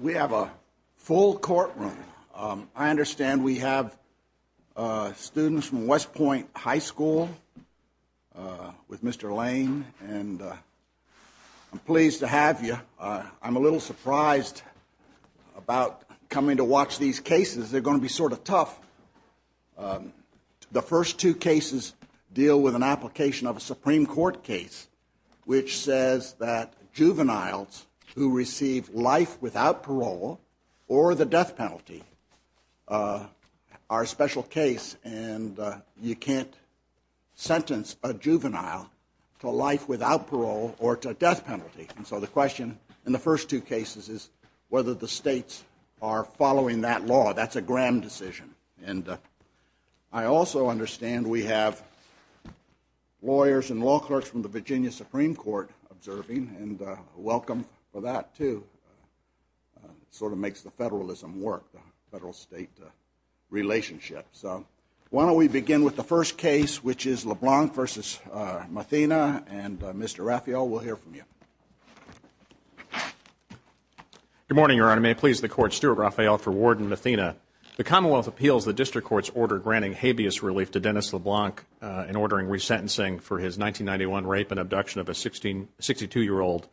We have a full courtroom. I understand we have students from West Point High School with Mr. Lane and I'm pleased to have you. I'm a little surprised about coming to watch these cases. They're going to be sort of tough. The first two cases deal with an application of a Supreme Court case which says that you receive life without parole or the death penalty. Our special case and you can't sentence a juvenile to life without parole or to a death penalty. And so the question in the first two cases is whether the states are following that law. That's a Graham decision. And I also understand we have lawyers and law clerks from the Virginia Supreme Court observing and welcome for that too. Sort of makes the federalism work, the federal-state relationship. So why don't we begin with the first case which is LeBlanc v. Mathena and Mr. Raphael, we'll hear from you. Good morning, Your Honor. May it please the Court, Stuart Raphael for Ward and Mathena. The Commonwealth appeals the district court's order granting habeas relief to Dennis LeBlanc in ordering resentencing for his 1991 rape and abduction of a 62-year-old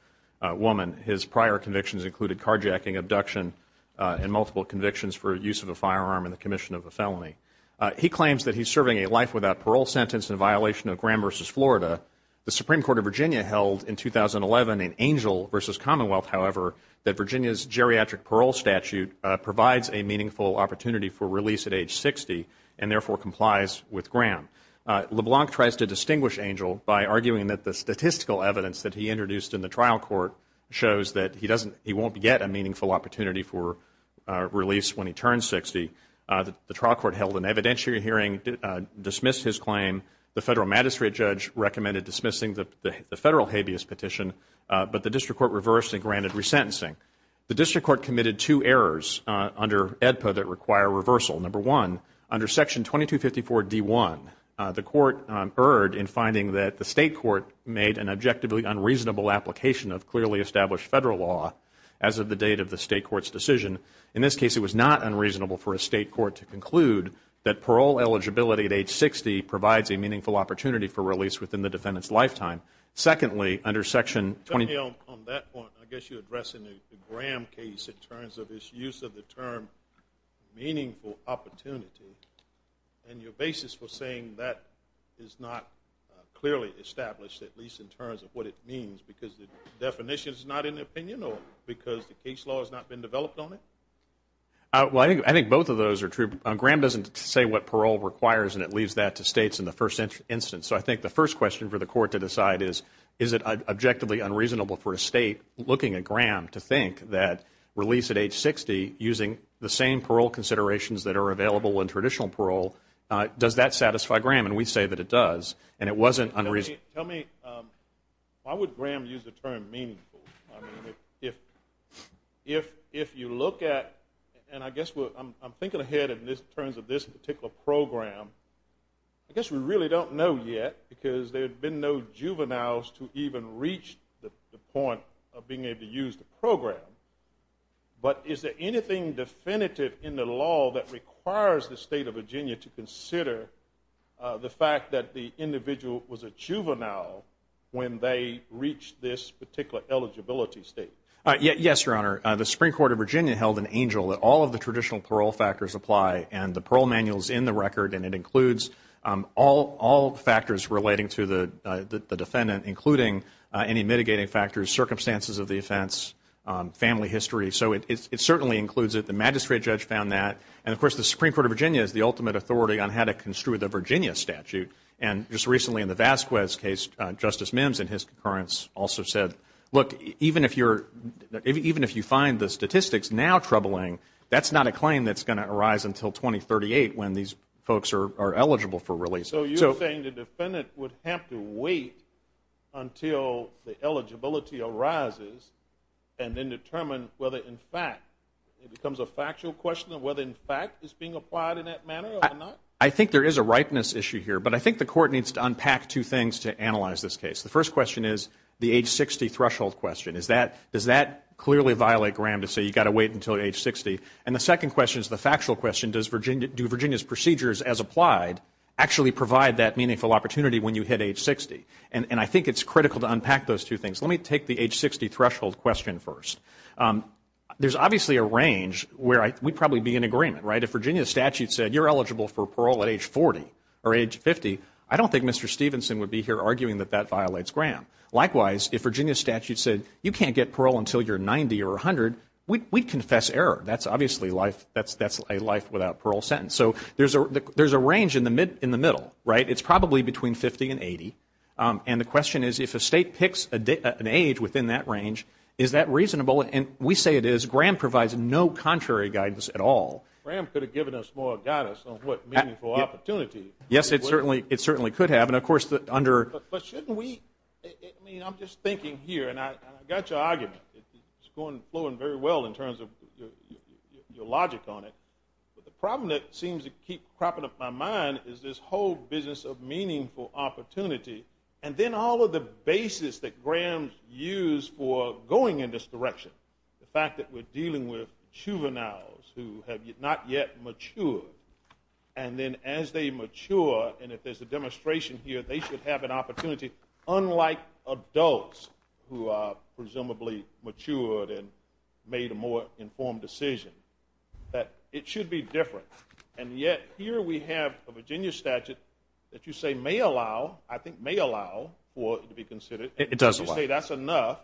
woman. His prior convictions included carjacking, abduction, and multiple convictions for use of a firearm in the commission of a felony. He claims that he's serving a life without parole sentence in violation of Graham v. Florida. The Supreme Court of Virginia held in 2011 in Angel v. Commonwealth, however, that Virginia's geriatric parole statute provides a meaningful opportunity for release at age 60 and therefore complies with Graham. LeBlanc tries to distinguish Angel by arguing that the statistical evidence that he introduced in the trial court shows that he won't get a meaningful opportunity for release when he turns 60. The trial court held an evidentiary hearing, dismissed his claim. The federal magistrate judge recommended dismissing the federal habeas petition but the district court reversed and granted resentencing. The district court committed two errors under AEDPA that require reversal. Number one, under Section 2254 D1, the court erred in finding that the state court made an objectively unreasonable application of clearly established federal law as of the date of the state court's decision. In this case, it was not unreasonable for a state court to conclude that parole eligibility at age 60 provides a meaningful opportunity for release within the defendant's lifetime. Secondly, under Section 2254... On that point, I guess you're addressing the Graham case in the term meaningful opportunity and your basis for saying that is not clearly established, at least in terms of what it means, because the definition is not in the opinion or because the case law has not been developed on it? I think both of those are true. Graham doesn't say what parole requires and it leaves that to states in the first instance. So I think the first question for the court to decide is, is it objectively unreasonable for a state looking at Graham to think that release at age 60 using the same parole considerations that are available in traditional parole, does that satisfy Graham? And we say that it does and it wasn't unreasonable. Tell me, why would Graham use the term meaningful? If you look at, and I guess what I'm thinking ahead in this terms of this particular program, I guess we really don't know yet because there is no evidence of being able to use the program, but is there anything definitive in the law that requires the state of Virginia to consider the fact that the individual was a juvenile when they reached this particular eligibility state? Yes, Your Honor. The Supreme Court of Virginia held an angel that all of the traditional parole factors apply and the parole manuals in the record and it includes all factors relating to the defendant, including any mitigating factors, circumstances of the offense, family history, so it certainly includes it. The magistrate judge found that and of course the Supreme Court of Virginia is the ultimate authority on how to construe the Virginia statute and just recently in the Vasquez case, Justice Mims and his concurrence also said, look even if you find the statistics now troubling, that's not a claim that's going to arise until 2038 when these folks are eligible for eligibility arises and then determine whether in fact it becomes a factual question of whether in fact it's being applied in that manner or not. I think there is a ripeness issue here, but I think the court needs to unpack two things to analyze this case. The first question is the age 60 threshold question, is that does that clearly violate Graham to say you got to wait until age 60? And the second question is the factual question, do Virginia's procedures as applied actually provide that meaningful opportunity when you hit age 60? And I think it's critical to unpack those two things. Let me take the age 60 threshold question first. There's obviously a range where we'd probably be in agreement, right? If Virginia statute said you're eligible for parole at age 40 or age 50, I don't think Mr. Stevenson would be here arguing that that violates Graham. Likewise, if Virginia statute said you can't get parole until you're 90 or 100, we'd confess error. That's obviously a life without parole sentence. So there's a range in the middle, right? It's probably between 50 and 80, and the question is if a state picks an age within that range, is that reasonable? And we say it is. Graham provides no contrary guidance at all. Graham could have given us more guidance on what meaningful opportunity. Yes, it certainly could have, and of course under... But shouldn't we... I mean, I'm just thinking here, and I got your argument. It's going flowing very well in terms of your logic on it, but the problem that seems to keep popping up in my mind is this whole business of meaningful opportunity, and then all of the basis that Graham used for going in this direction. The fact that we're dealing with juveniles who have not yet matured, and then as they mature, and if there's a demonstration here, they should have an opportunity unlike adults who are presumably matured and made a more informed decision. That it should be different, and yet here we have a Virginia statute that you say may allow, I think may allow, for it to be considered. It does allow. You say that's enough,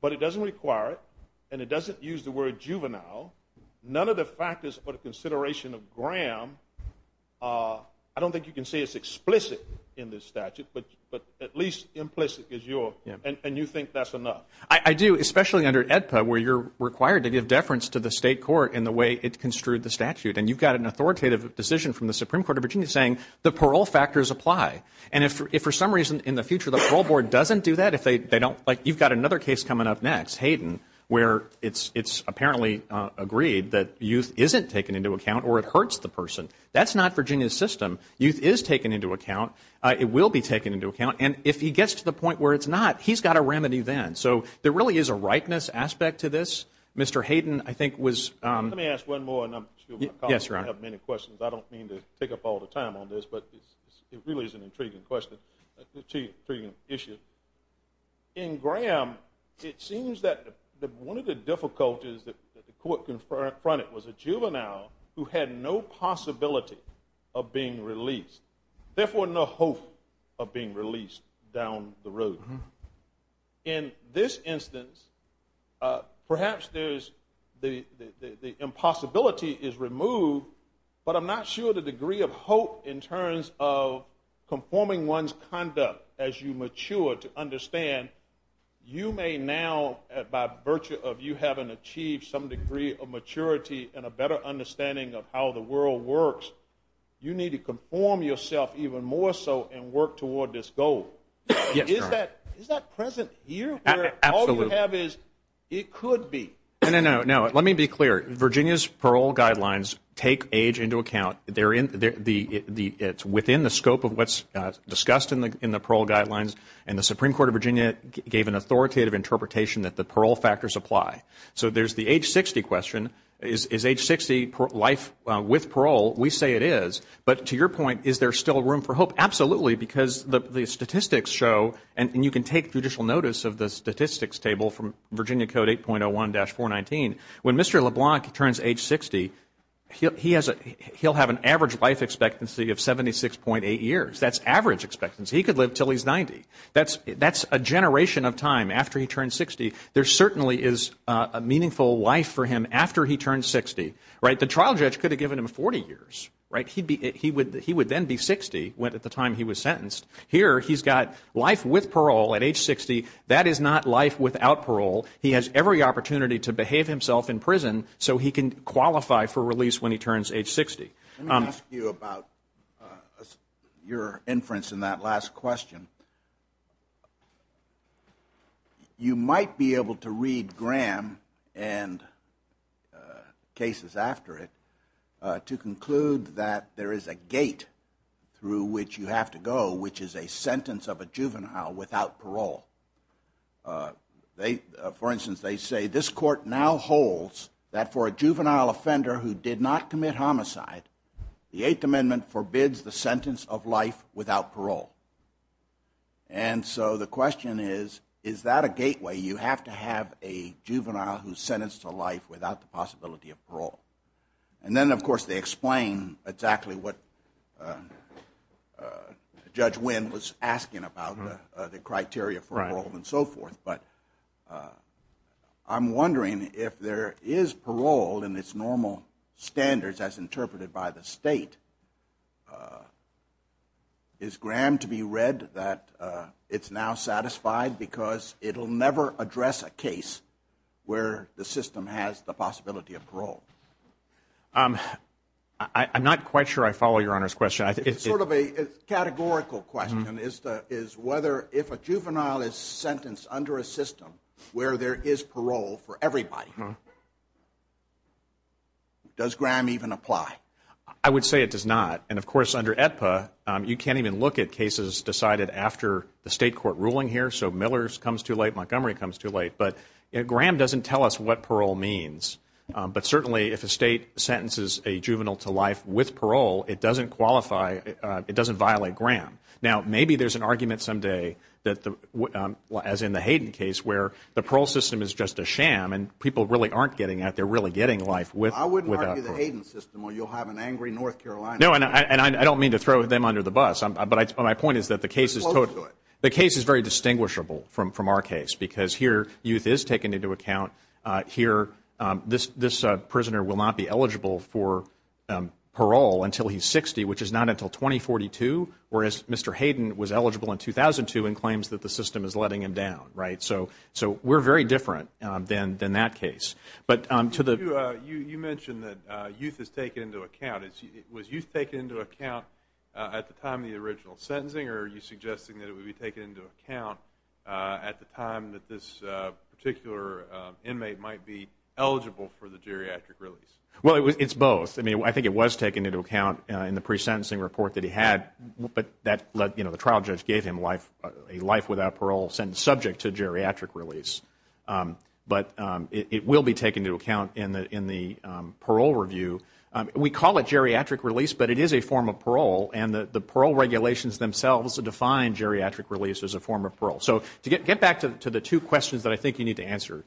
but it doesn't require it, and it doesn't use the word juvenile. None of the factors for the consideration of Graham... I don't think you can say it's explicit in this statute, but at least implicit is your... and you think that's enough. I do, especially under AEDPA, where you're required to give deference to the state court in the way it does. You've got an authoritative decision from the Supreme Court of Virginia saying the parole factors apply, and if for some reason in the future the parole board doesn't do that, if they don't... like you've got another case coming up next, Hayden, where it's apparently agreed that youth isn't taken into account, or it hurts the person. That's not Virginia's system. Youth is taken into account. It will be taken into account, and if he gets to the point where it's not, he's got a remedy then. So there really is a rightness aspect to this. Mr. Hayden, I have many questions. I don't mean to take up all the time on this, but it really is an intriguing question, intriguing issue. In Graham, it seems that one of the difficulties that the court confronted was a juvenile who had no possibility of being released, therefore no hope of being released down the road. In this instance, perhaps the impossibility is removed, but I'm not sure the degree of hope in terms of conforming one's conduct as you mature to understand, you may now, by virtue of you having achieved some degree of maturity and a better understanding of how the world works, you need to conform yourself even more so and work toward this goal. Is that present here? Absolutely. All you have is, it could be. No, let me be clear. Virginia's parole guidelines take age into account. It's within the scope of what's discussed in the parole guidelines, and the Supreme Court of Virginia gave an authoritative interpretation that the parole factors apply. So there's the age 60 question. Is age 60 life with parole? We say it is, but to your point, is there still room for hope? Absolutely, because the statistics show, and you can take judicial notice of the statistics table from Virginia Code 8.01-419, when Mr. LeBlanc turns age 60, he'll have an average life expectancy of 76.8 years. That's average expectancy. He could live till he's 90. That's a generation of time after he turns 60. There certainly is a meaningful life for him after he turns 60. The trial judge could have given him 40 years. He would then be 60 at the time he was sentenced. Here, he's got life with parole at age 60. That is not life without parole. He has every opportunity to behave himself in prison so he can qualify for release when he turns age 60. Let me ask you about your case. You might be able to read Graham, and cases after it, to conclude that there is a gate through which you have to go, which is a sentence of a juvenile without parole. For instance, they say, this court now holds that for a juvenile offender who did not commit homicide, the Eighth Amendment forbids the sentence of life without parole. The question is, is that a gateway? You have to have a juvenile who's sentenced to life without the possibility of parole. Then, of course, they explain exactly what Judge Wynn was asking about the criteria for parole and so forth. I'm wondering if there is parole in its normal standards as interpreted by the state. Is Graham to be read that it's now satisfied because it will never address a case where the system has the possibility of parole? I'm not quite sure I follow your Honor's question. It's sort of a categorical question. Is whether if a juvenile is sentenced under a system where there is parole for everybody, does Graham even apply? I would say it does not. Of course, under AEDPA, you can't even look at cases decided after the state court ruling here. Miller comes too late. Montgomery comes too late. Graham doesn't tell us what parole means. Certainly, if a state sentences a juvenile to life with parole, it doesn't violate Graham. Maybe there's an argument someday, as in the Hayden case, where the parole system is just a sham and people really aren't getting out. They're really getting out. I don't mean to throw them under the bus. The case is very distinguishable from our case because here, youth is taken into account. This prisoner will not be eligible for parole until he's 60, which is not until 2042, whereas Mr. Hayden was eligible in 2002 and claims that the system is letting him down. We're very different than that case. You mentioned that youth is taken into account. Was youth taken into account at the time of the original sentencing, or are you suggesting that it would be taken into account at the time that this particular inmate might be eligible for the geriatric release? It's both. I think it was taken into account in the pre-sentencing report that he had, but the trial judge gave him a life without parole sentence subject to geriatric release. But it will be taken into account in the parole review. We call it geriatric release, but it is a form of parole, and the parole regulations themselves define geriatric release as a form of parole. So to get back to the two questions that I think you need to answer,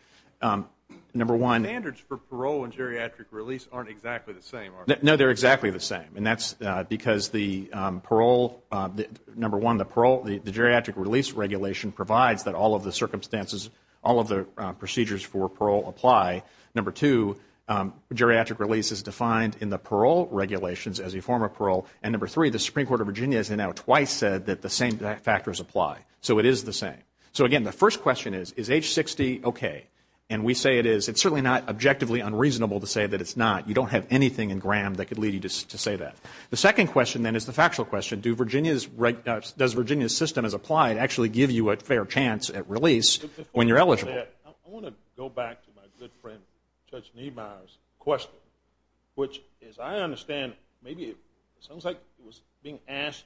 number one Standards for parole and geriatric release aren't exactly the same, are they? No, they're exactly the same, and that's because, number one, the geriatric release regulation provides that all of the procedures for parole apply. Number two, geriatric release is defined in the parole regulations as a form of parole. And number three, the Supreme Court of Virginia has now twice said that the same factors apply. So it is the same. So again, the first question is, is age 60 okay? And we say it is. It's certainly not objectively unreasonable to say that it's not. You don't have anything in Graham that could lead you to say that. The second question, then, is the factual question. Does Virginia's have a fair chance at release when you're eligible? I want to go back to my good friend Judge Niemeyer's question, which, as I understand, maybe it sounds like it was being asked,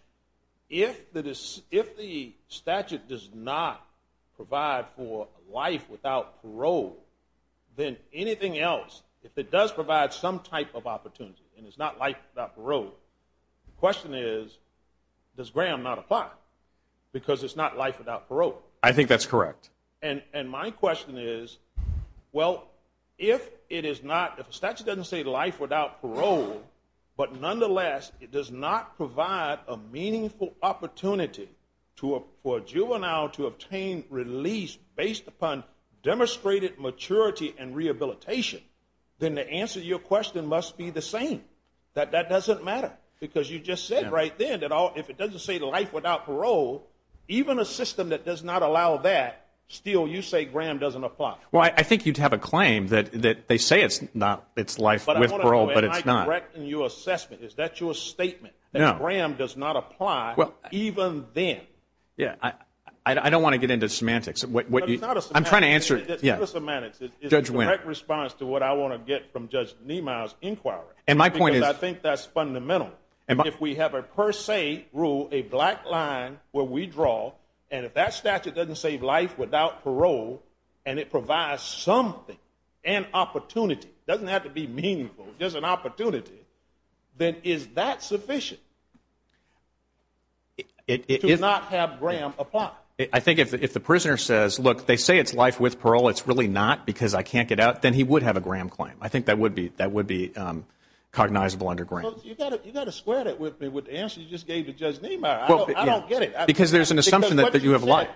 if the statute does not provide for life without parole, then anything else, if it does provide some type of opportunity and it's not life without parole, the question is, does Graham not apply? Because it's not life without parole. I think that's correct. And my question is, well, if it is not, if the statute doesn't say life without parole, but nonetheless, it does not provide a meaningful opportunity for a juvenile to obtain release based upon demonstrated maturity and rehabilitation, then the answer to your question must be the same, that that doesn't matter. Because you just said right then that if it doesn't say life without parole, even a system that does not allow that, still, you say Graham doesn't apply. Well, I think you'd have a claim that they say it's not, it's life with parole, but it's not. Am I correcting your assessment? Is that your statement? That Graham does not apply even then? Yeah. I don't want to get into semantics. It's not a semantics. I'm trying to answer. It's not a semantics. Judge Winn. It's a direct response to what I want to get from Judge Niemeyer's inquiry. And my point is... Because I think that's fundamental. If we have a per se rule, a black line where we draw, and if that statute doesn't say life without parole, and it provides something, an opportunity, it doesn't have to be meaningful, just an opportunity, then is that sufficient? It is... To not have Graham apply. I think if the prisoner says, look, they say it's life with parole, it's really not because I can't get out, then he would have a Graham claim. I think that would be cognizable under Graham. You've got to square that with the answer you just gave to Judge Niemeyer. I don't get it. Because there's an assumption that you have a right.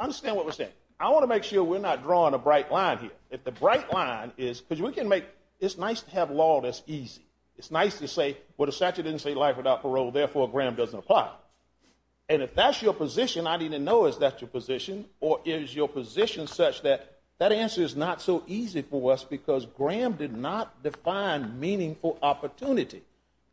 Understand what we're saying. I want to make sure we're not drawing a bright line here. If the bright line is... Because we can make... It's nice to have law that's easy. It's nice to say, well, the statute didn't say life without parole, therefore Graham doesn't apply. And if that's your position, I need to know is that your position, or is your position such that that answer is not so easy for us because Graham did not define meaningful opportunity.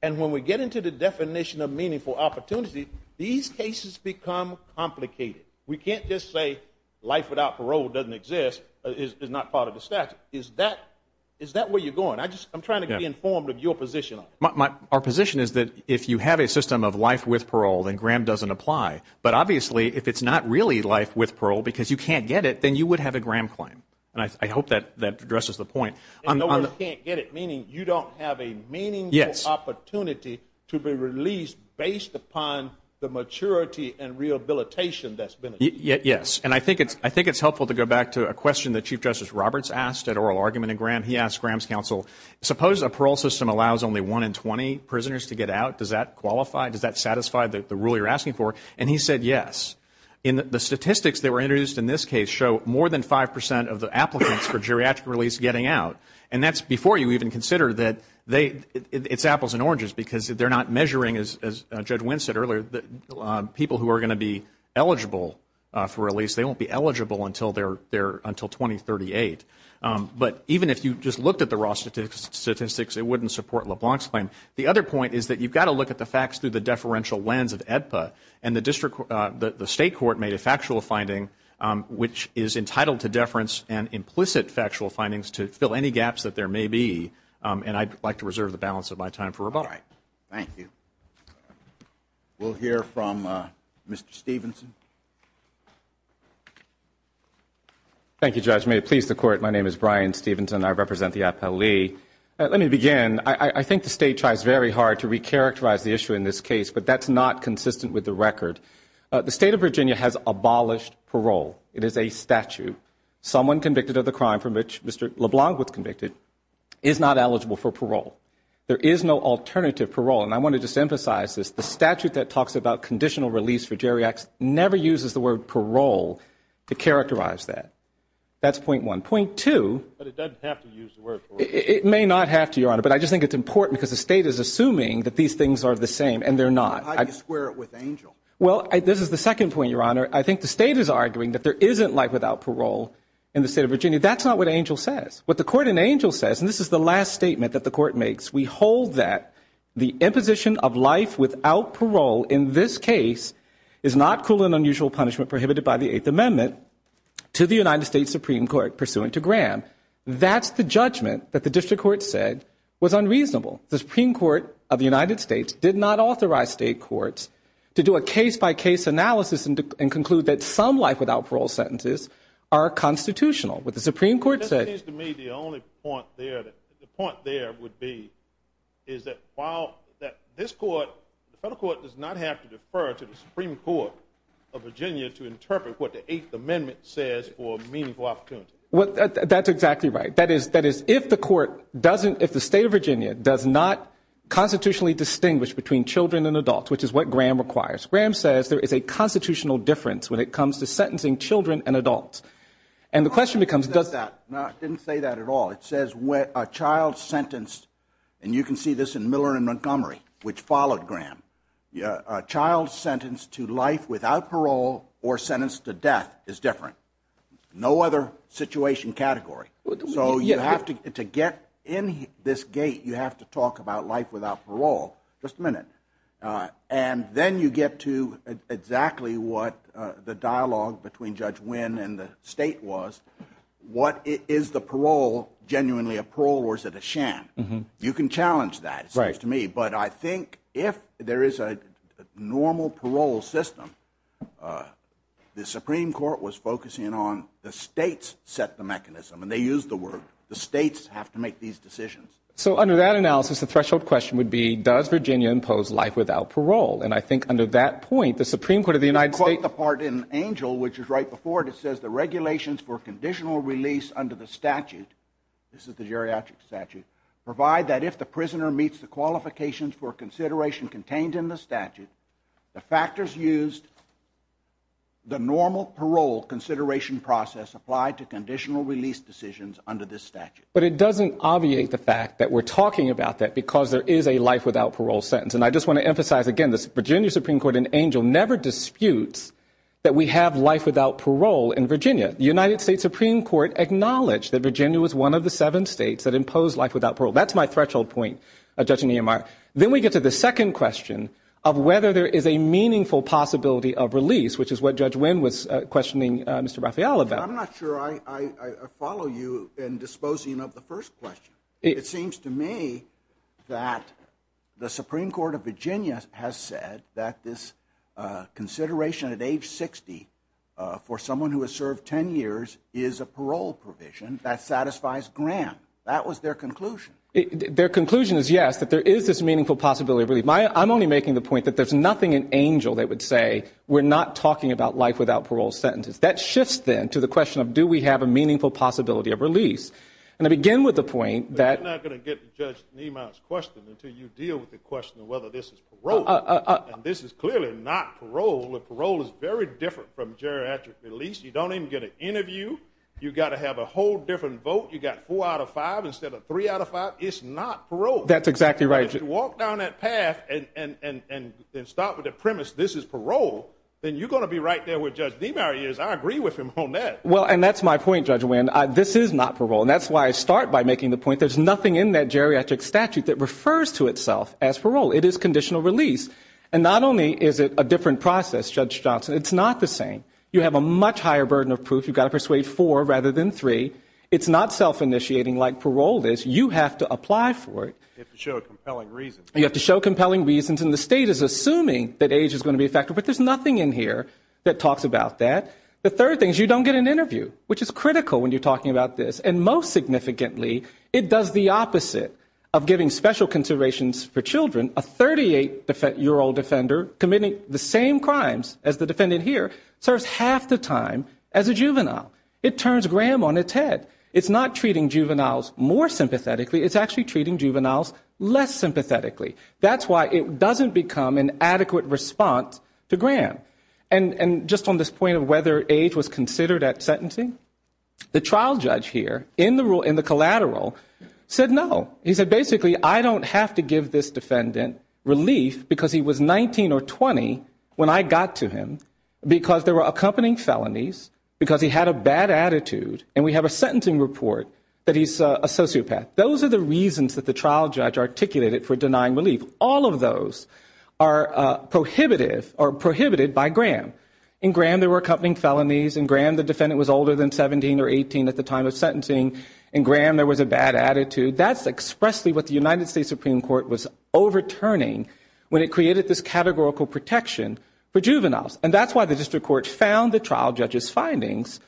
And when we get into the definition of meaningful opportunity, these cases become complicated. We can't just say life without parole doesn't exist, is not part of the statute. Is that where you're going? I'm trying to be informed of your position on it. Our position is that if you have a system of life with parole, then Graham doesn't apply. But obviously, if it's not really life with parole because you can't get it, then you would have a Graham claim. And I hope that addresses the point. And no one can't get it, meaning you don't have a meaningful opportunity to be released based upon the maturity and rehabilitation that's been achieved. Yes. And I think it's helpful to go back to a question that Chief Justice Roberts asked at oral argument in Graham. He asked Graham's counsel, suppose a parole system allows only 1 in 20 prisoners to get out. Does that qualify? Does that satisfy the rule you're asking for? And he said yes. The statistics that were introduced in this case show more than 5 percent of the applicants for geriatric release getting out. And that's before you even consider that it's apples and oranges because they're not measuring, as Judge Wynn said earlier, people who are going to be eligible for release, they won't be eligible until 2038. But even if you just looked at the raw statistics, it wouldn't support LeBlanc's claim. The other point is that you've got to look at the facts through the deferential lens of AEDPA. And the State Court made a factual finding which is entitled to deference and implicit factual findings to fill any gaps that there may be. And I'd like to reserve the balance of my time for rebuttal. Thank you. We'll hear from Mr. Stephenson. Thank you, Judge. May it please the Court, my name is Brian Stephenson. I represent the AEDPA. Let me begin. I think the State tries very hard to recharacterize the issue in this case, but that's not consistent with the record. The State of Virginia has abolished parole. It is a statute. Someone convicted of the crime for which Mr. LeBlanc was convicted is not eligible for parole. There is no alternative parole. And I want to just emphasize this. The statute that talks about conditional release for geriatrics never uses the word parole to characterize that. That's point one. Point two. But it doesn't have to use the word parole. It may not have to, Your Honor. But I just think it's important because the State is arguing that there isn't life without parole in the State of Virginia. That's not what Angel says. What the Court in Angel says, and this is the last statement that the Court makes, we hold that the imposition of life without parole in this case is not cruel and unusual punishment prohibited by the Eighth Amendment to the United States Supreme Court pursuant to Graham. That's the judgment that the District Court said was unreasonable. The Supreme Court of the United States did not authorize State courts to do a case-by-case analysis and conclude that some life without parole sentences are constitutional. What the Supreme Court said It seems to me the only point there, the point there would be is that while this Court, the Federal Court does not have to defer to the Supreme Court of Virginia to interpret what the Eighth Amendment says for meaningful opportunity. That's exactly right. That is, if the Court doesn't, if the State of Virginia does not constitutionally distinguish between children and adults, which is what Graham requires. Graham says there is a constitutional difference when it comes to sentencing children and adults. And the question becomes, does that No, I didn't say that at all. It says a child sentenced, and you can see this in Miller and Montgomery, which followed Graham, a child sentenced to life without parole or sentenced to death is different. No other situation category. So you have to, to get in this gate, you have to talk about life without parole, just a minute. And then you get to exactly what the dialogue between Judge Wynn and the State was, what is the parole, genuinely a parole or is it a sham? You can challenge that, it seems to me. But I think if there is a normal parole system, the Supreme Court was focusing on the States set the mechanism and they used the word, the States have to make these decisions. So under that analysis, the threshold question would be, does Virginia impose life without parole? And I think under that point, the Supreme Court of the United States I quote the part in Angel, which is right before it, it says the regulations for conditional release under the statute, this is the geriatric statute, provide that if the prisoner meets the qualifications for consideration contained in the statute, the factors used, the normal parole consideration process applied to conditional release decisions under this statute. But it doesn't obviate the fact that we're talking about that because there is a life without parole sentence. And I just want to emphasize again, this Virginia Supreme Court in Angel never disputes that we have life without parole in Virginia. The United States Supreme Court acknowledged that Virginia was one of the seven States that impose life without parole. That's my threshold point, Judge Nehemiah. Then we get to the second question of whether there is a meaningful possibility of release, which is what Judge Winn was questioning Mr. Raphael about. I'm not sure I follow you in disposing of the first question. It seems to me that the Supreme Court of Virginia has said that this consideration at age 60 for someone who has a parole provision that satisfies Graham. That was their conclusion. Their conclusion is yes, that there is this meaningful possibility of release. I'm only making the point that there's nothing in Angel that would say we're not talking about life without parole sentences. That shifts then to the question of do we have a meaningful possibility of release. And I begin with the point that But you're not going to get to Judge Nehemiah's question until you deal with the question of whether this is parole. And this is clearly not parole. Parole is very different from You've got to have a whole different vote. You've got four out of five instead of three out of five. It's not parole. That's exactly right. If you walk down that path and start with the premise this is parole, then you're going to be right there with Judge Nehemiah. I agree with him on that. And that's my point, Judge Winn. This is not parole. And that's why I start by making the point there's nothing in that geriatric statute that refers to itself as parole. It is conditional release. And not only is it a different process, Judge Johnson, it's not the same. You have a much higher burden of proof. You've got to persuade four rather than three. It's not self-initiating like parole is. You have to apply for it. You have to show compelling reasons. You have to show compelling reasons. And the state is assuming that age is going to be a factor. But there's nothing in here that talks about that. The third thing is you don't get an interview, which is critical when you're talking about this. And most significantly, it does the opposite of giving special considerations for children. A 38-year-old defender committing the same crimes as the defendant here serves half the time as a juvenile. It turns Graham on its head. It's not treating juveniles more sympathetically. It's actually treating juveniles less sympathetically. That's why it doesn't become an adequate response to Graham. And just on this point of whether age was considered at sentencing, the trial judge here in the collateral said no. He said, basically, I don't have to give this defendant relief because he was 19 or 20 when I got to him, because there were accompanying felonies, because he had a bad attitude, and we have a sentencing report that he's a sociopath. Those are the reasons that the trial judge articulated for denying relief. All of those are prohibited by Graham. In Graham, there were accompanying felonies. In Graham, the defendant was older than 17 or 18 at the time of sentencing. In Graham, there was a bad when it created this categorical protection for juveniles. And that's why the district court found the trial judge's findings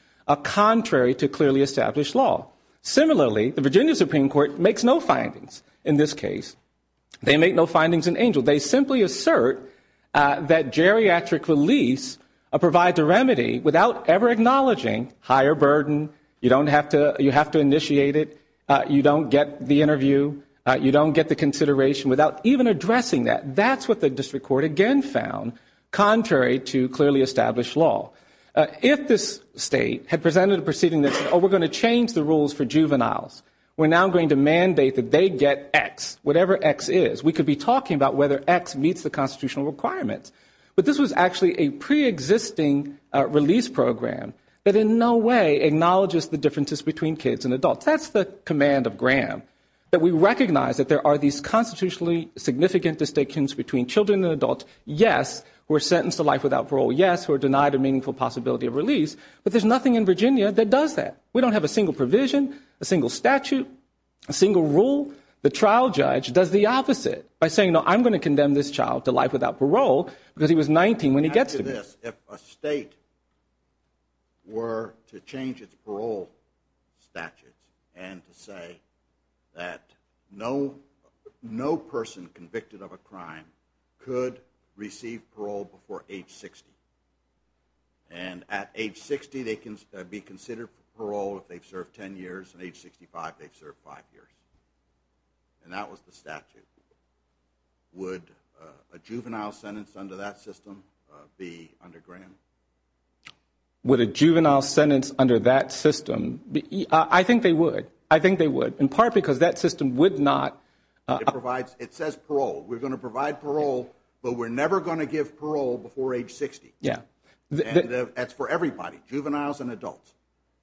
contrary to clearly established law. Similarly, the Virginia Supreme Court makes no findings in this case. They make no findings in Angel. They simply assert that geriatric release provides a remedy without ever acknowledging higher burden. You have to initiate it. You don't get the interview. You don't get the trial. That's what the district court again found contrary to clearly established law. If this state had presented a proceeding that said, oh, we're going to change the rules for juveniles. We're now going to mandate that they get X, whatever X is. We could be talking about whether X meets the constitutional requirements. But this was actually a preexisting release program that in no way acknowledges the differences between kids and adults. That's the command of Graham, that we recognize that there are these constitutionally significant distinctions between children and adults, yes, who are sentenced to life without parole, yes, who are denied a meaningful possibility of release. But there's nothing in Virginia that does that. We don't have a single provision, a single statute, a single rule. The trial judge does the opposite by saying, no, I'm going to condemn this child to life without parole because he was 19 when he gets to. Yes, if a state were to change its parole statutes and to say that no person convicted of a crime could receive parole before age 60. And at age 60, they can be considered parole if they've served 10 years. At age 65, they've served five years. And that was the statute. Would a juvenile sentence under that system be under Graham? Would a juvenile sentence under that system be? I think they would. I think they would, in part because that system would not. It says parole. We're going to provide parole, but we're never going to give parole before age 60. That's for everybody, juveniles and adults.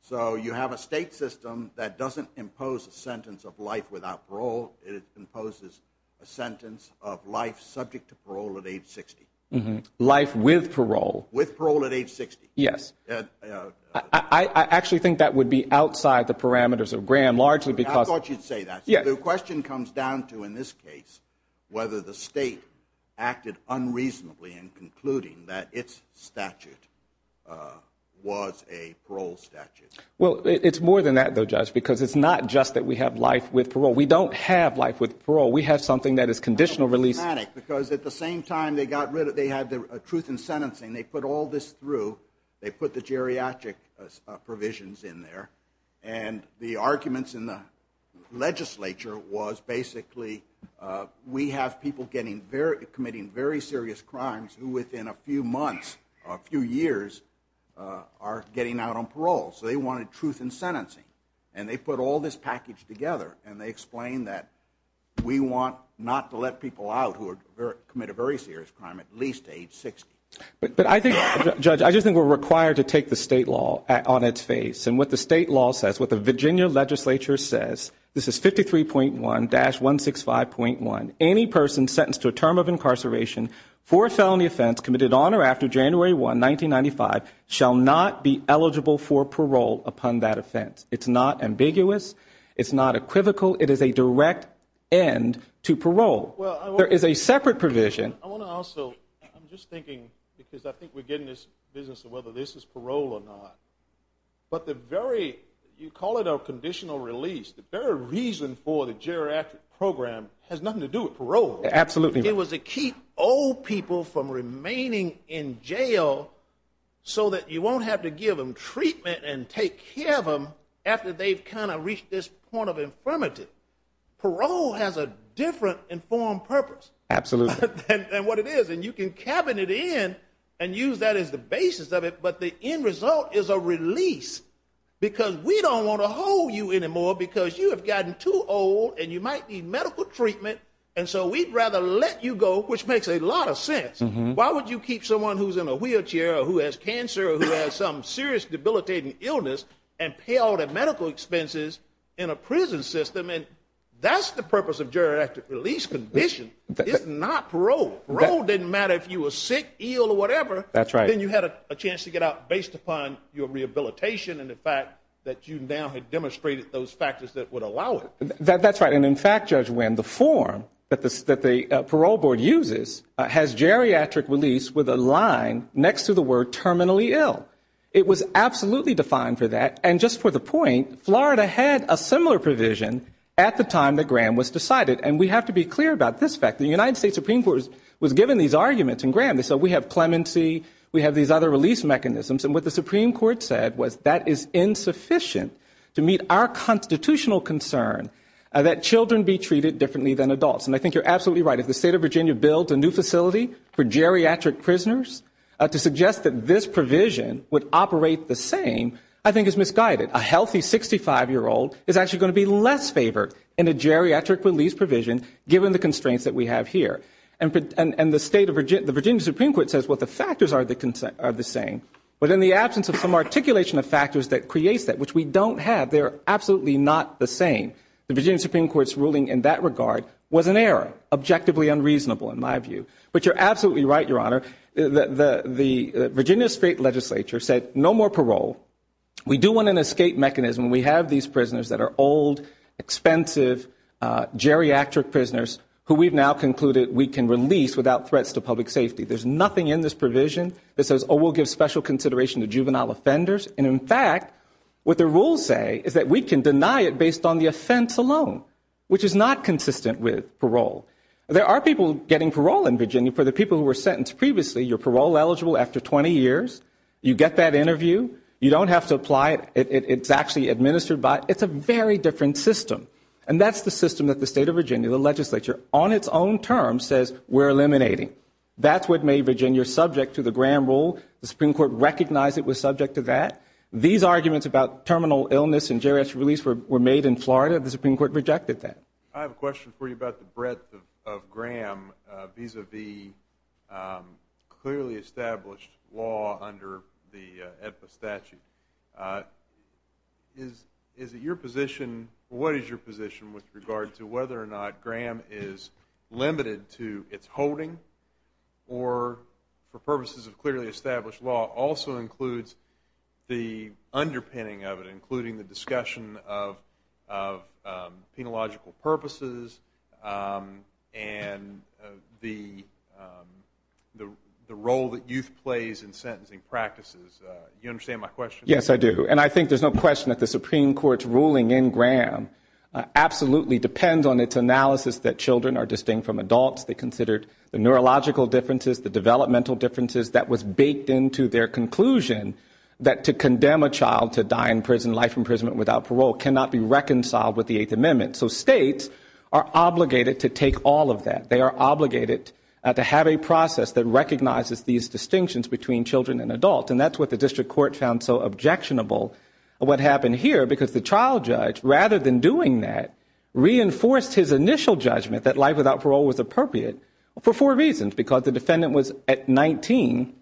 So you have a state system that doesn't impose a sentence of life without parole. It imposes a sentence of life subject to parole at age 60. Life with parole. With parole at age 60. Yes. I actually think that would be outside the parameters of Graham, largely because I thought you'd say that. The question comes down to, in this case, whether the state acted unreasonably in concluding that its statute was a parole statute. Well, it's more than that, though, Judge, because it's not just that we have life with parole. We don't have life with parole. We have something that is conditional release. I'm a little dramatic, because at the same time they got rid of, they had the truth in sentencing. They put all this through. They put the geriatric provisions in there. And the arguments in the legislature was basically, we have people committing very serious crimes who within a few months, a few years, are getting out on parole. So they wanted truth in sentencing. And they put all this package together. And they explained that we want not to let people out who commit a very serious crime at least to age 60. But I think, Judge, I just think we're required to take the state law on its face. And what the state law says, what the Virginia legislature says, this is 53.1-165.1, any person sentenced to a term of incarceration for a felony offense committed on or after January 1, 1995, shall not be eligible for parole upon that offense. It's not ambiguous. It's not equivocal. It is a direct end to parole. There is a separate provision. I want to also, I'm just thinking, because I think we're getting this business of whether this is parole or not. But the very, you call it a conditional release, the very reason for the geriatric program has nothing to do with parole. Absolutely. It was to keep old people from remaining in jail so that you won't have to give them treatment and take care of them after they've kind of reached this point of infirmity. Parole has a different informed purpose. Absolutely. Than what it is. And you can cabinet in and use that as the basis of it. But the end result is a release. Because we don't want to hold you anymore because you have gotten too old and you might need medical treatment. And so we'd rather let you go, which makes a lot of sense. Why would you keep someone who's in a wheelchair, who has cancer, who has some serious debilitating illness, and pay all the medical expenses in a prison system? And that's the purpose of geriatric release condition. It's not parole. Parole didn't matter if you were sick, ill, or whatever. That's right. Then you had a chance to get out based upon your rehabilitation and the fact that you now had demonstrated those factors that would allow it. That's right. And in fact, Judge Wynn, the form that the parole board uses has geriatric release with a line next to the word terminally ill. It was absolutely defined for that. And just for the point, Florida had a similar provision at the time that Graham was decided. And we have to be clear about this fact. The United States Supreme Court was given these arguments in Graham. They said we have clemency, we have these other release mechanisms. And what the Supreme Court said was that is insufficient to meet our constitutional concern that children be treated differently than adults. And I think you're absolutely right. If the state of Virginia builds a new facility for geriatric prisoners, to suggest that this provision would operate the same, I think is misguided. A healthy 65-year-old is actually going to be less favored in a geriatric release provision given the constraints that we have here. And the state of Virginia, the Virginia Supreme Court says, well, the factors are the same. But in the absence of some articulation of factors that creates that, which we don't have, they're absolutely not the same. The Virginia Supreme Court's ruling in that regard was an error, objectively unreasonable in my view. But you're absolutely right, Your Honor. The Virginia State Legislature said no more parole. We do want an escape mechanism. We have these prisoners that are old, expensive, geriatric prisoners who we've now concluded we can release without threats to public safety. There's nothing in this provision that says, oh, we'll give special consideration to juvenile offenders. And in fact, what the rules say is that we can deny it based on the offense alone, which is not consistent with parole. There are people getting parole in Virginia. For the people who were sentenced previously, you're parole eligible after 20 years. You get that interview. You don't have to apply it. It's actually administered by, it's a very different system. And that's the system that the state of Virginia, the legislature, on its own terms says we're eliminating. That's what made Virginia subject to the Graham rule. The Supreme Court recognized it was subject to that. These arguments about terminal illness and geriatric release were made in Florida. The Supreme Court rejected that. I have a question for you about the breadth of Graham vis-a-vis clearly established law under the EPA statute. Is it your position, what is your position with regard to whether or not Graham is limited to its holding or for purposes of clearly established law also includes the underpinning of it, including the discussion of penological purposes and the role that youth plays in sentencing practices? You understand my question? Yes, I do. And I think there's no question that the Supreme Court's ruling in Graham absolutely depends on its analysis that children are distinct from adults. They considered the neurological differences, the developmental differences that was baked into their conclusion that to condemn a child to die in prison, life imprisonment without parole, cannot be reconciled with the Eighth Amendment. So states are obligated to take all of that. They are obligated to have a process that recognizes these distinctions between children and adults. And that's what the district court found so objectionable, what happened here, because the trial judge, rather than doing that, reinforced his initial judgment that life without parole was appropriate for four reasons, because the defendant was at 19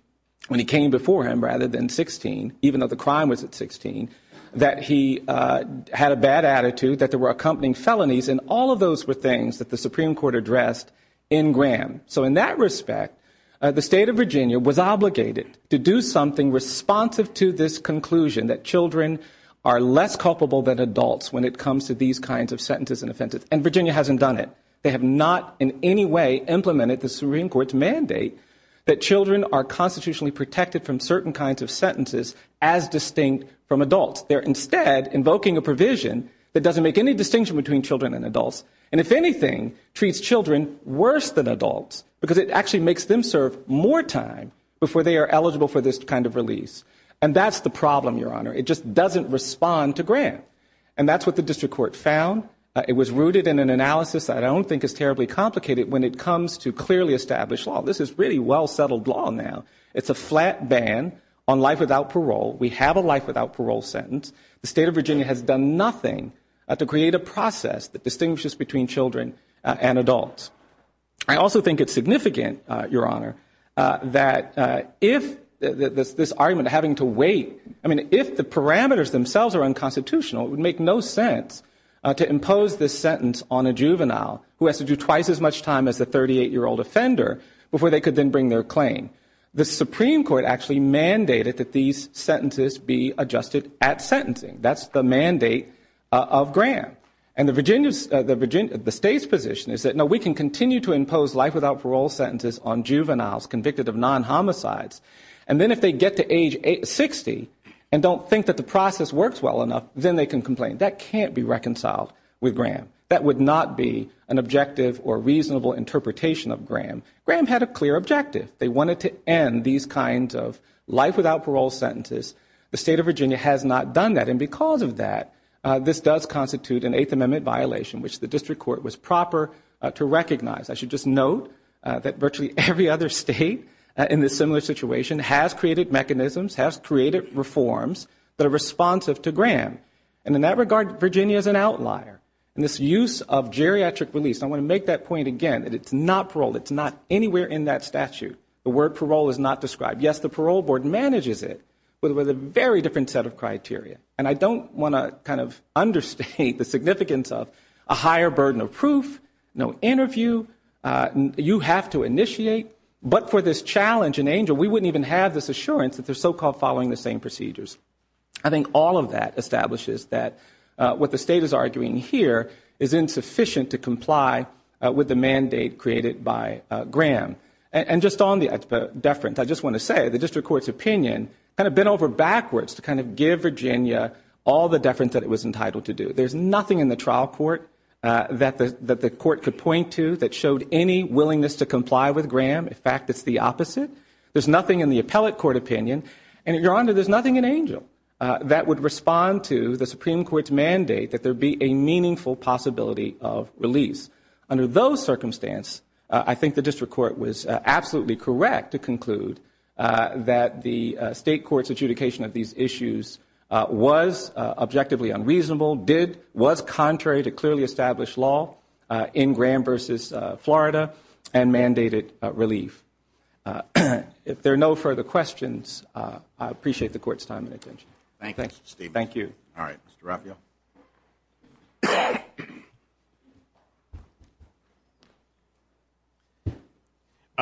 when he came before him rather than 16, even though the crime was at 16, that he had a bad attitude, that there were accompanying felonies, and all of those were things that the Supreme Court addressed in Graham. So in that respect, the State of Virginia was obligated to do something responsive to this conclusion that children are less culpable than adults when it comes to these kinds of sentences and offenses. And Virginia hasn't done it. They have not in any way implemented the Supreme Court's mandate that children are constitutionally protected from certain kinds of sentences as distinct from adults. They are instead invoking a provision that doesn't make any distinction between children and adults, and if anything, treats children worse than adults, because it actually makes them serve more time before they are eligible for this kind of release. And that's the problem, Your Honor. It just doesn't respond to Graham. And that's what the district court found. It was rooted in an analysis that I don't think is terribly complicated when it comes to clearly established law. This is really well-settled law now. It's a flat ban on life without parole. We have a life without parole sentence. The State of Virginia has done nothing to create a process that distinguishes between children and adults. I also think it's significant, Your Honor, that if this argument having to wait, I mean, if the parameters themselves are unconstitutional, it would make no sense to impose this sentence on a juvenile who has to do twice as much time as the 38-year-old offender before they could then bring their claim. The Supreme Court actually mandated that these sentences be adjusted at sentencing. That's the mandate of Graham. And the State's position is that, no, we can continue to impose life without parole sentences on juveniles convicted of non-homicides. And then if they get to age 60 and don't think that the process works well enough, then they can complain. That can't be reconciled with Graham. That would not be an objective or reasonable interpretation of Graham. Graham had a clear objective. They wanted to end these kinds of life without parole sentences. The State of Virginia has not done that. And because of that, this does constitute an Eighth Amendment violation, which the District Court was proper to recognize. I should just note that virtually every other State in this similar situation has created mechanisms, has created reforms that are responsive to Graham. And in that regard, Virginia is an outlier. And this use of geriatric release, I want to make that point again, that it's not parole. It's not anywhere in that statute. The word parole is not described. Yes, the Parole Board manages it with a very different set of criteria. And I don't want to kind of understate the significance of a higher burden of proof, no interview. You have to initiate. But for this challenge in ANGEL, we wouldn't even have this assurance that they're so-called following the same procedures. I think all of that establishes that what the State is arguing here is insufficient to comply with the mandate created by Graham. And just on the deference, I just want to say the District Court's opinion kind of bent over backwards to kind of give Virginia all the deference that it was entitled to do. There's nothing in the trial court that the Court could point to that showed any willingness to comply with Graham. In fact, it's the opposite. There's nothing in the appellate court opinion. And Your Honor, there's nothing in ANGEL that would respond to the Supreme Court's mandate that there be a meaningful possibility of release. Under those circumstances, I think the District Court was absolutely correct to conclude that the State Court's adjudication of these issues was objectively unreasonable, did, was contrary to clearly established law in Graham v. Florida, and mandated relief. If there are no further questions, I appreciate the Court's time and attention. Thank you, Steve. Thank you. All right, Mr. Raffio.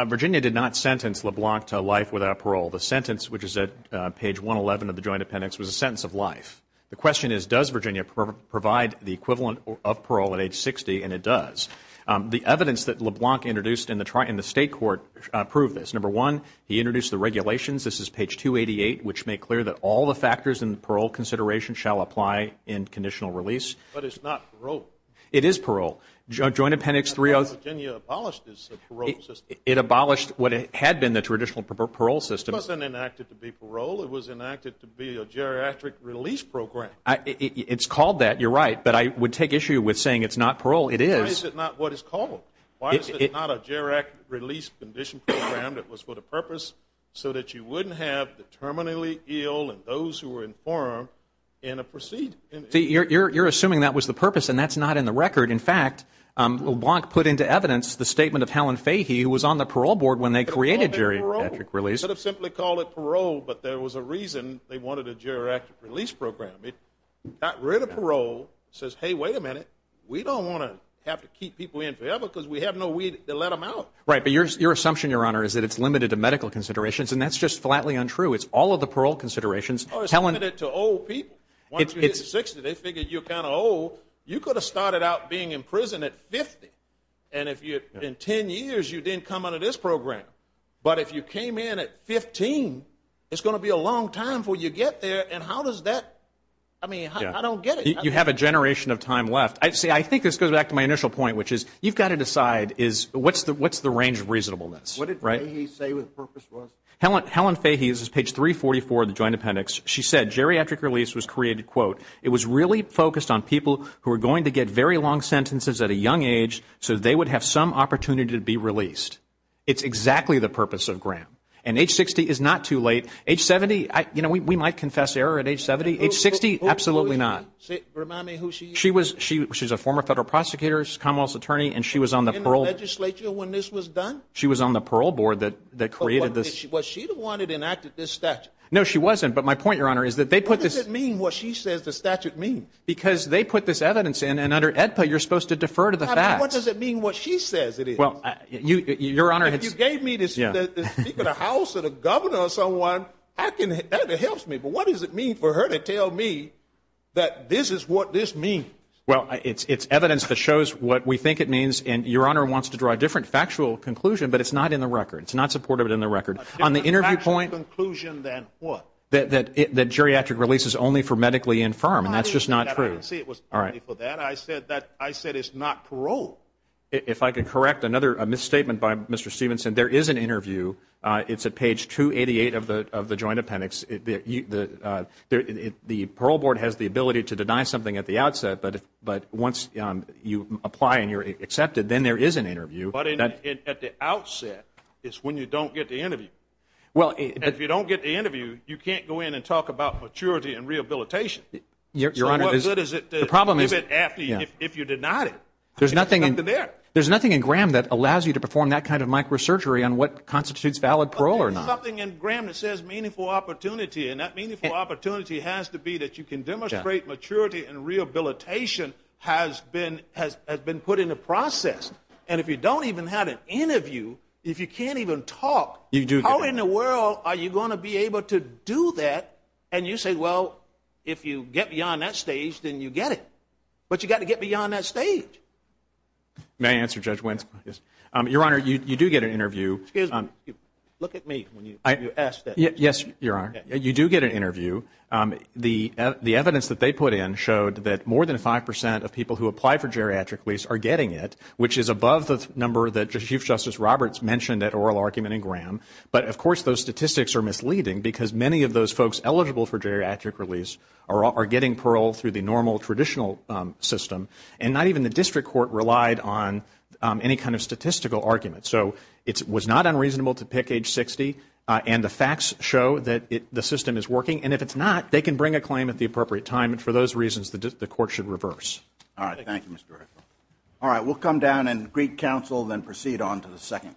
Virginia did not sentence LeBlanc to life without parole. The sentence, which is at page 111 of the Joint Appendix, was a sentence of life. The question is, does Virginia provide the equivalent of parole at age 60? And it does. The evidence that LeBlanc introduced in the State Court proved this. Number one, he introduced the regulations. This is page 288, which make clear that all the factors in the parole consideration shall apply in conditional release. But it's not parole. It is parole. Joint Appendix 3- I thought Virginia abolished this parole system. It abolished what had been the traditional parole system. It wasn't enacted to be parole. It was enacted to be a geriatric release program. It's called that. You're right. But I would take issue with saying it's not parole. It is. Why is it not what it's called? Why is it not a geriatric release condition program that was for the purpose so that you wouldn't have the terminally ill and those who were informed in a procedure? You're assuming that was the purpose, and that's not in the record. In fact, LeBlanc put into evidence the statement of Helen Fahey, who was on the parole board when they created geriatric release. They could have simply called it parole, but there was a reason they wanted a geriatric release program. It got rid of parole, says, hey, wait a minute. We don't want to have to keep people in forever because we have no weed to let them out. Right. But your assumption, Your Honor, is that it's limited to medical considerations, and that's just flatly untrue. It's all of the parole considerations. Oh, it's limited to old people. Once you hit 60, they figure you're kind of old. You could have started out being in prison at 50, and in 10 years, you didn't come out of this program. But if you came in at 15, it's going to be a long time before you get there, and how does that – I mean, I don't get it. You have a generation of time left. See, I think this goes back to my initial point, which is you've got to decide is what's the range of reasonableness, right? What did Fahey say the purpose was? Helen Fahey, this is page 344 of the Joint Appendix, she said geriatric release was created, quote, it was really focused on people who are going to get very long sentences at a young age so they would have some opportunity to be released. It's exactly the purpose of Graham. And age 60 is not too late. Age 70, you know, we might confess error at age 70. Age 60, absolutely not. Remind me who she is. She's a former federal prosecutor, she's a commonwealth attorney, and she was on the parole – In the legislature when this was done? She was on the parole board that created this – Was she the one that enacted this statute? No, she wasn't, but my point, Your Honor, is that they put this – What does it mean what she says the statute means? Because they put this evidence in, and under AEDPA, you're supposed to defer to the facts. How does it mean what she says it is? Well, Your Honor – If you gave me the Speaker of the House or the Governor or someone, that helps me. What does it mean for her to tell me that this is what this means? Well, it's evidence that shows what we think it means, and Your Honor wants to draw a different factual conclusion, but it's not in the record. It's not supported in the record. There's a factual conclusion than what? That geriatric release is only for medically infirm, and that's just not true. I didn't say it was only for that. I said it's not parole. If I can correct another misstatement by Mr. Stevenson, there is an interview. It's at page 288 of the Joint Appendix. The parole board has the ability to deny something at the outset, but once you apply and you're accepted, then there is an interview. But at the outset is when you don't get the interview. If you don't get the interview, you can't go in and talk about maturity and rehabilitation. So what good is it to give it after if you deny it? There's nothing in – It's not there. There's nothing in Graham that allows you to perform that kind of microsurgery on what constitutes valid parole or not. But there's something in Graham that says meaningful opportunity, and that meaningful opportunity has to be that you can demonstrate maturity and rehabilitation has been put in the process. And if you don't even have an interview, if you can't even talk, how in the world are you going to be able to do that? And you say, well, if you get beyond that stage, then you get it. But you've got to get beyond that stage. May I answer, Judge Wentz? Yes. Your Honor, you do get an interview. Excuse me. Look at me when you ask that. Yes, Your Honor. You do get an interview. The evidence that they put in showed that more than 5 percent of people who apply for geriatric release are getting it, which is above the number that Chief Justice Roberts mentioned at oral argument in Graham. But, of course, those statistics are misleading because many of those folks eligible for geriatric release are getting parole through the normal, traditional system. And not even the district court relied on any kind of statistical argument. So it was not unreasonable to pick age 60. And the facts show that the system is working. And if it's not, they can bring a claim at the appropriate time. And for those reasons, the court should reverse. All right. Thank you, Mr. Director. All right. We'll come down and greet counsel, then proceed on to the second case.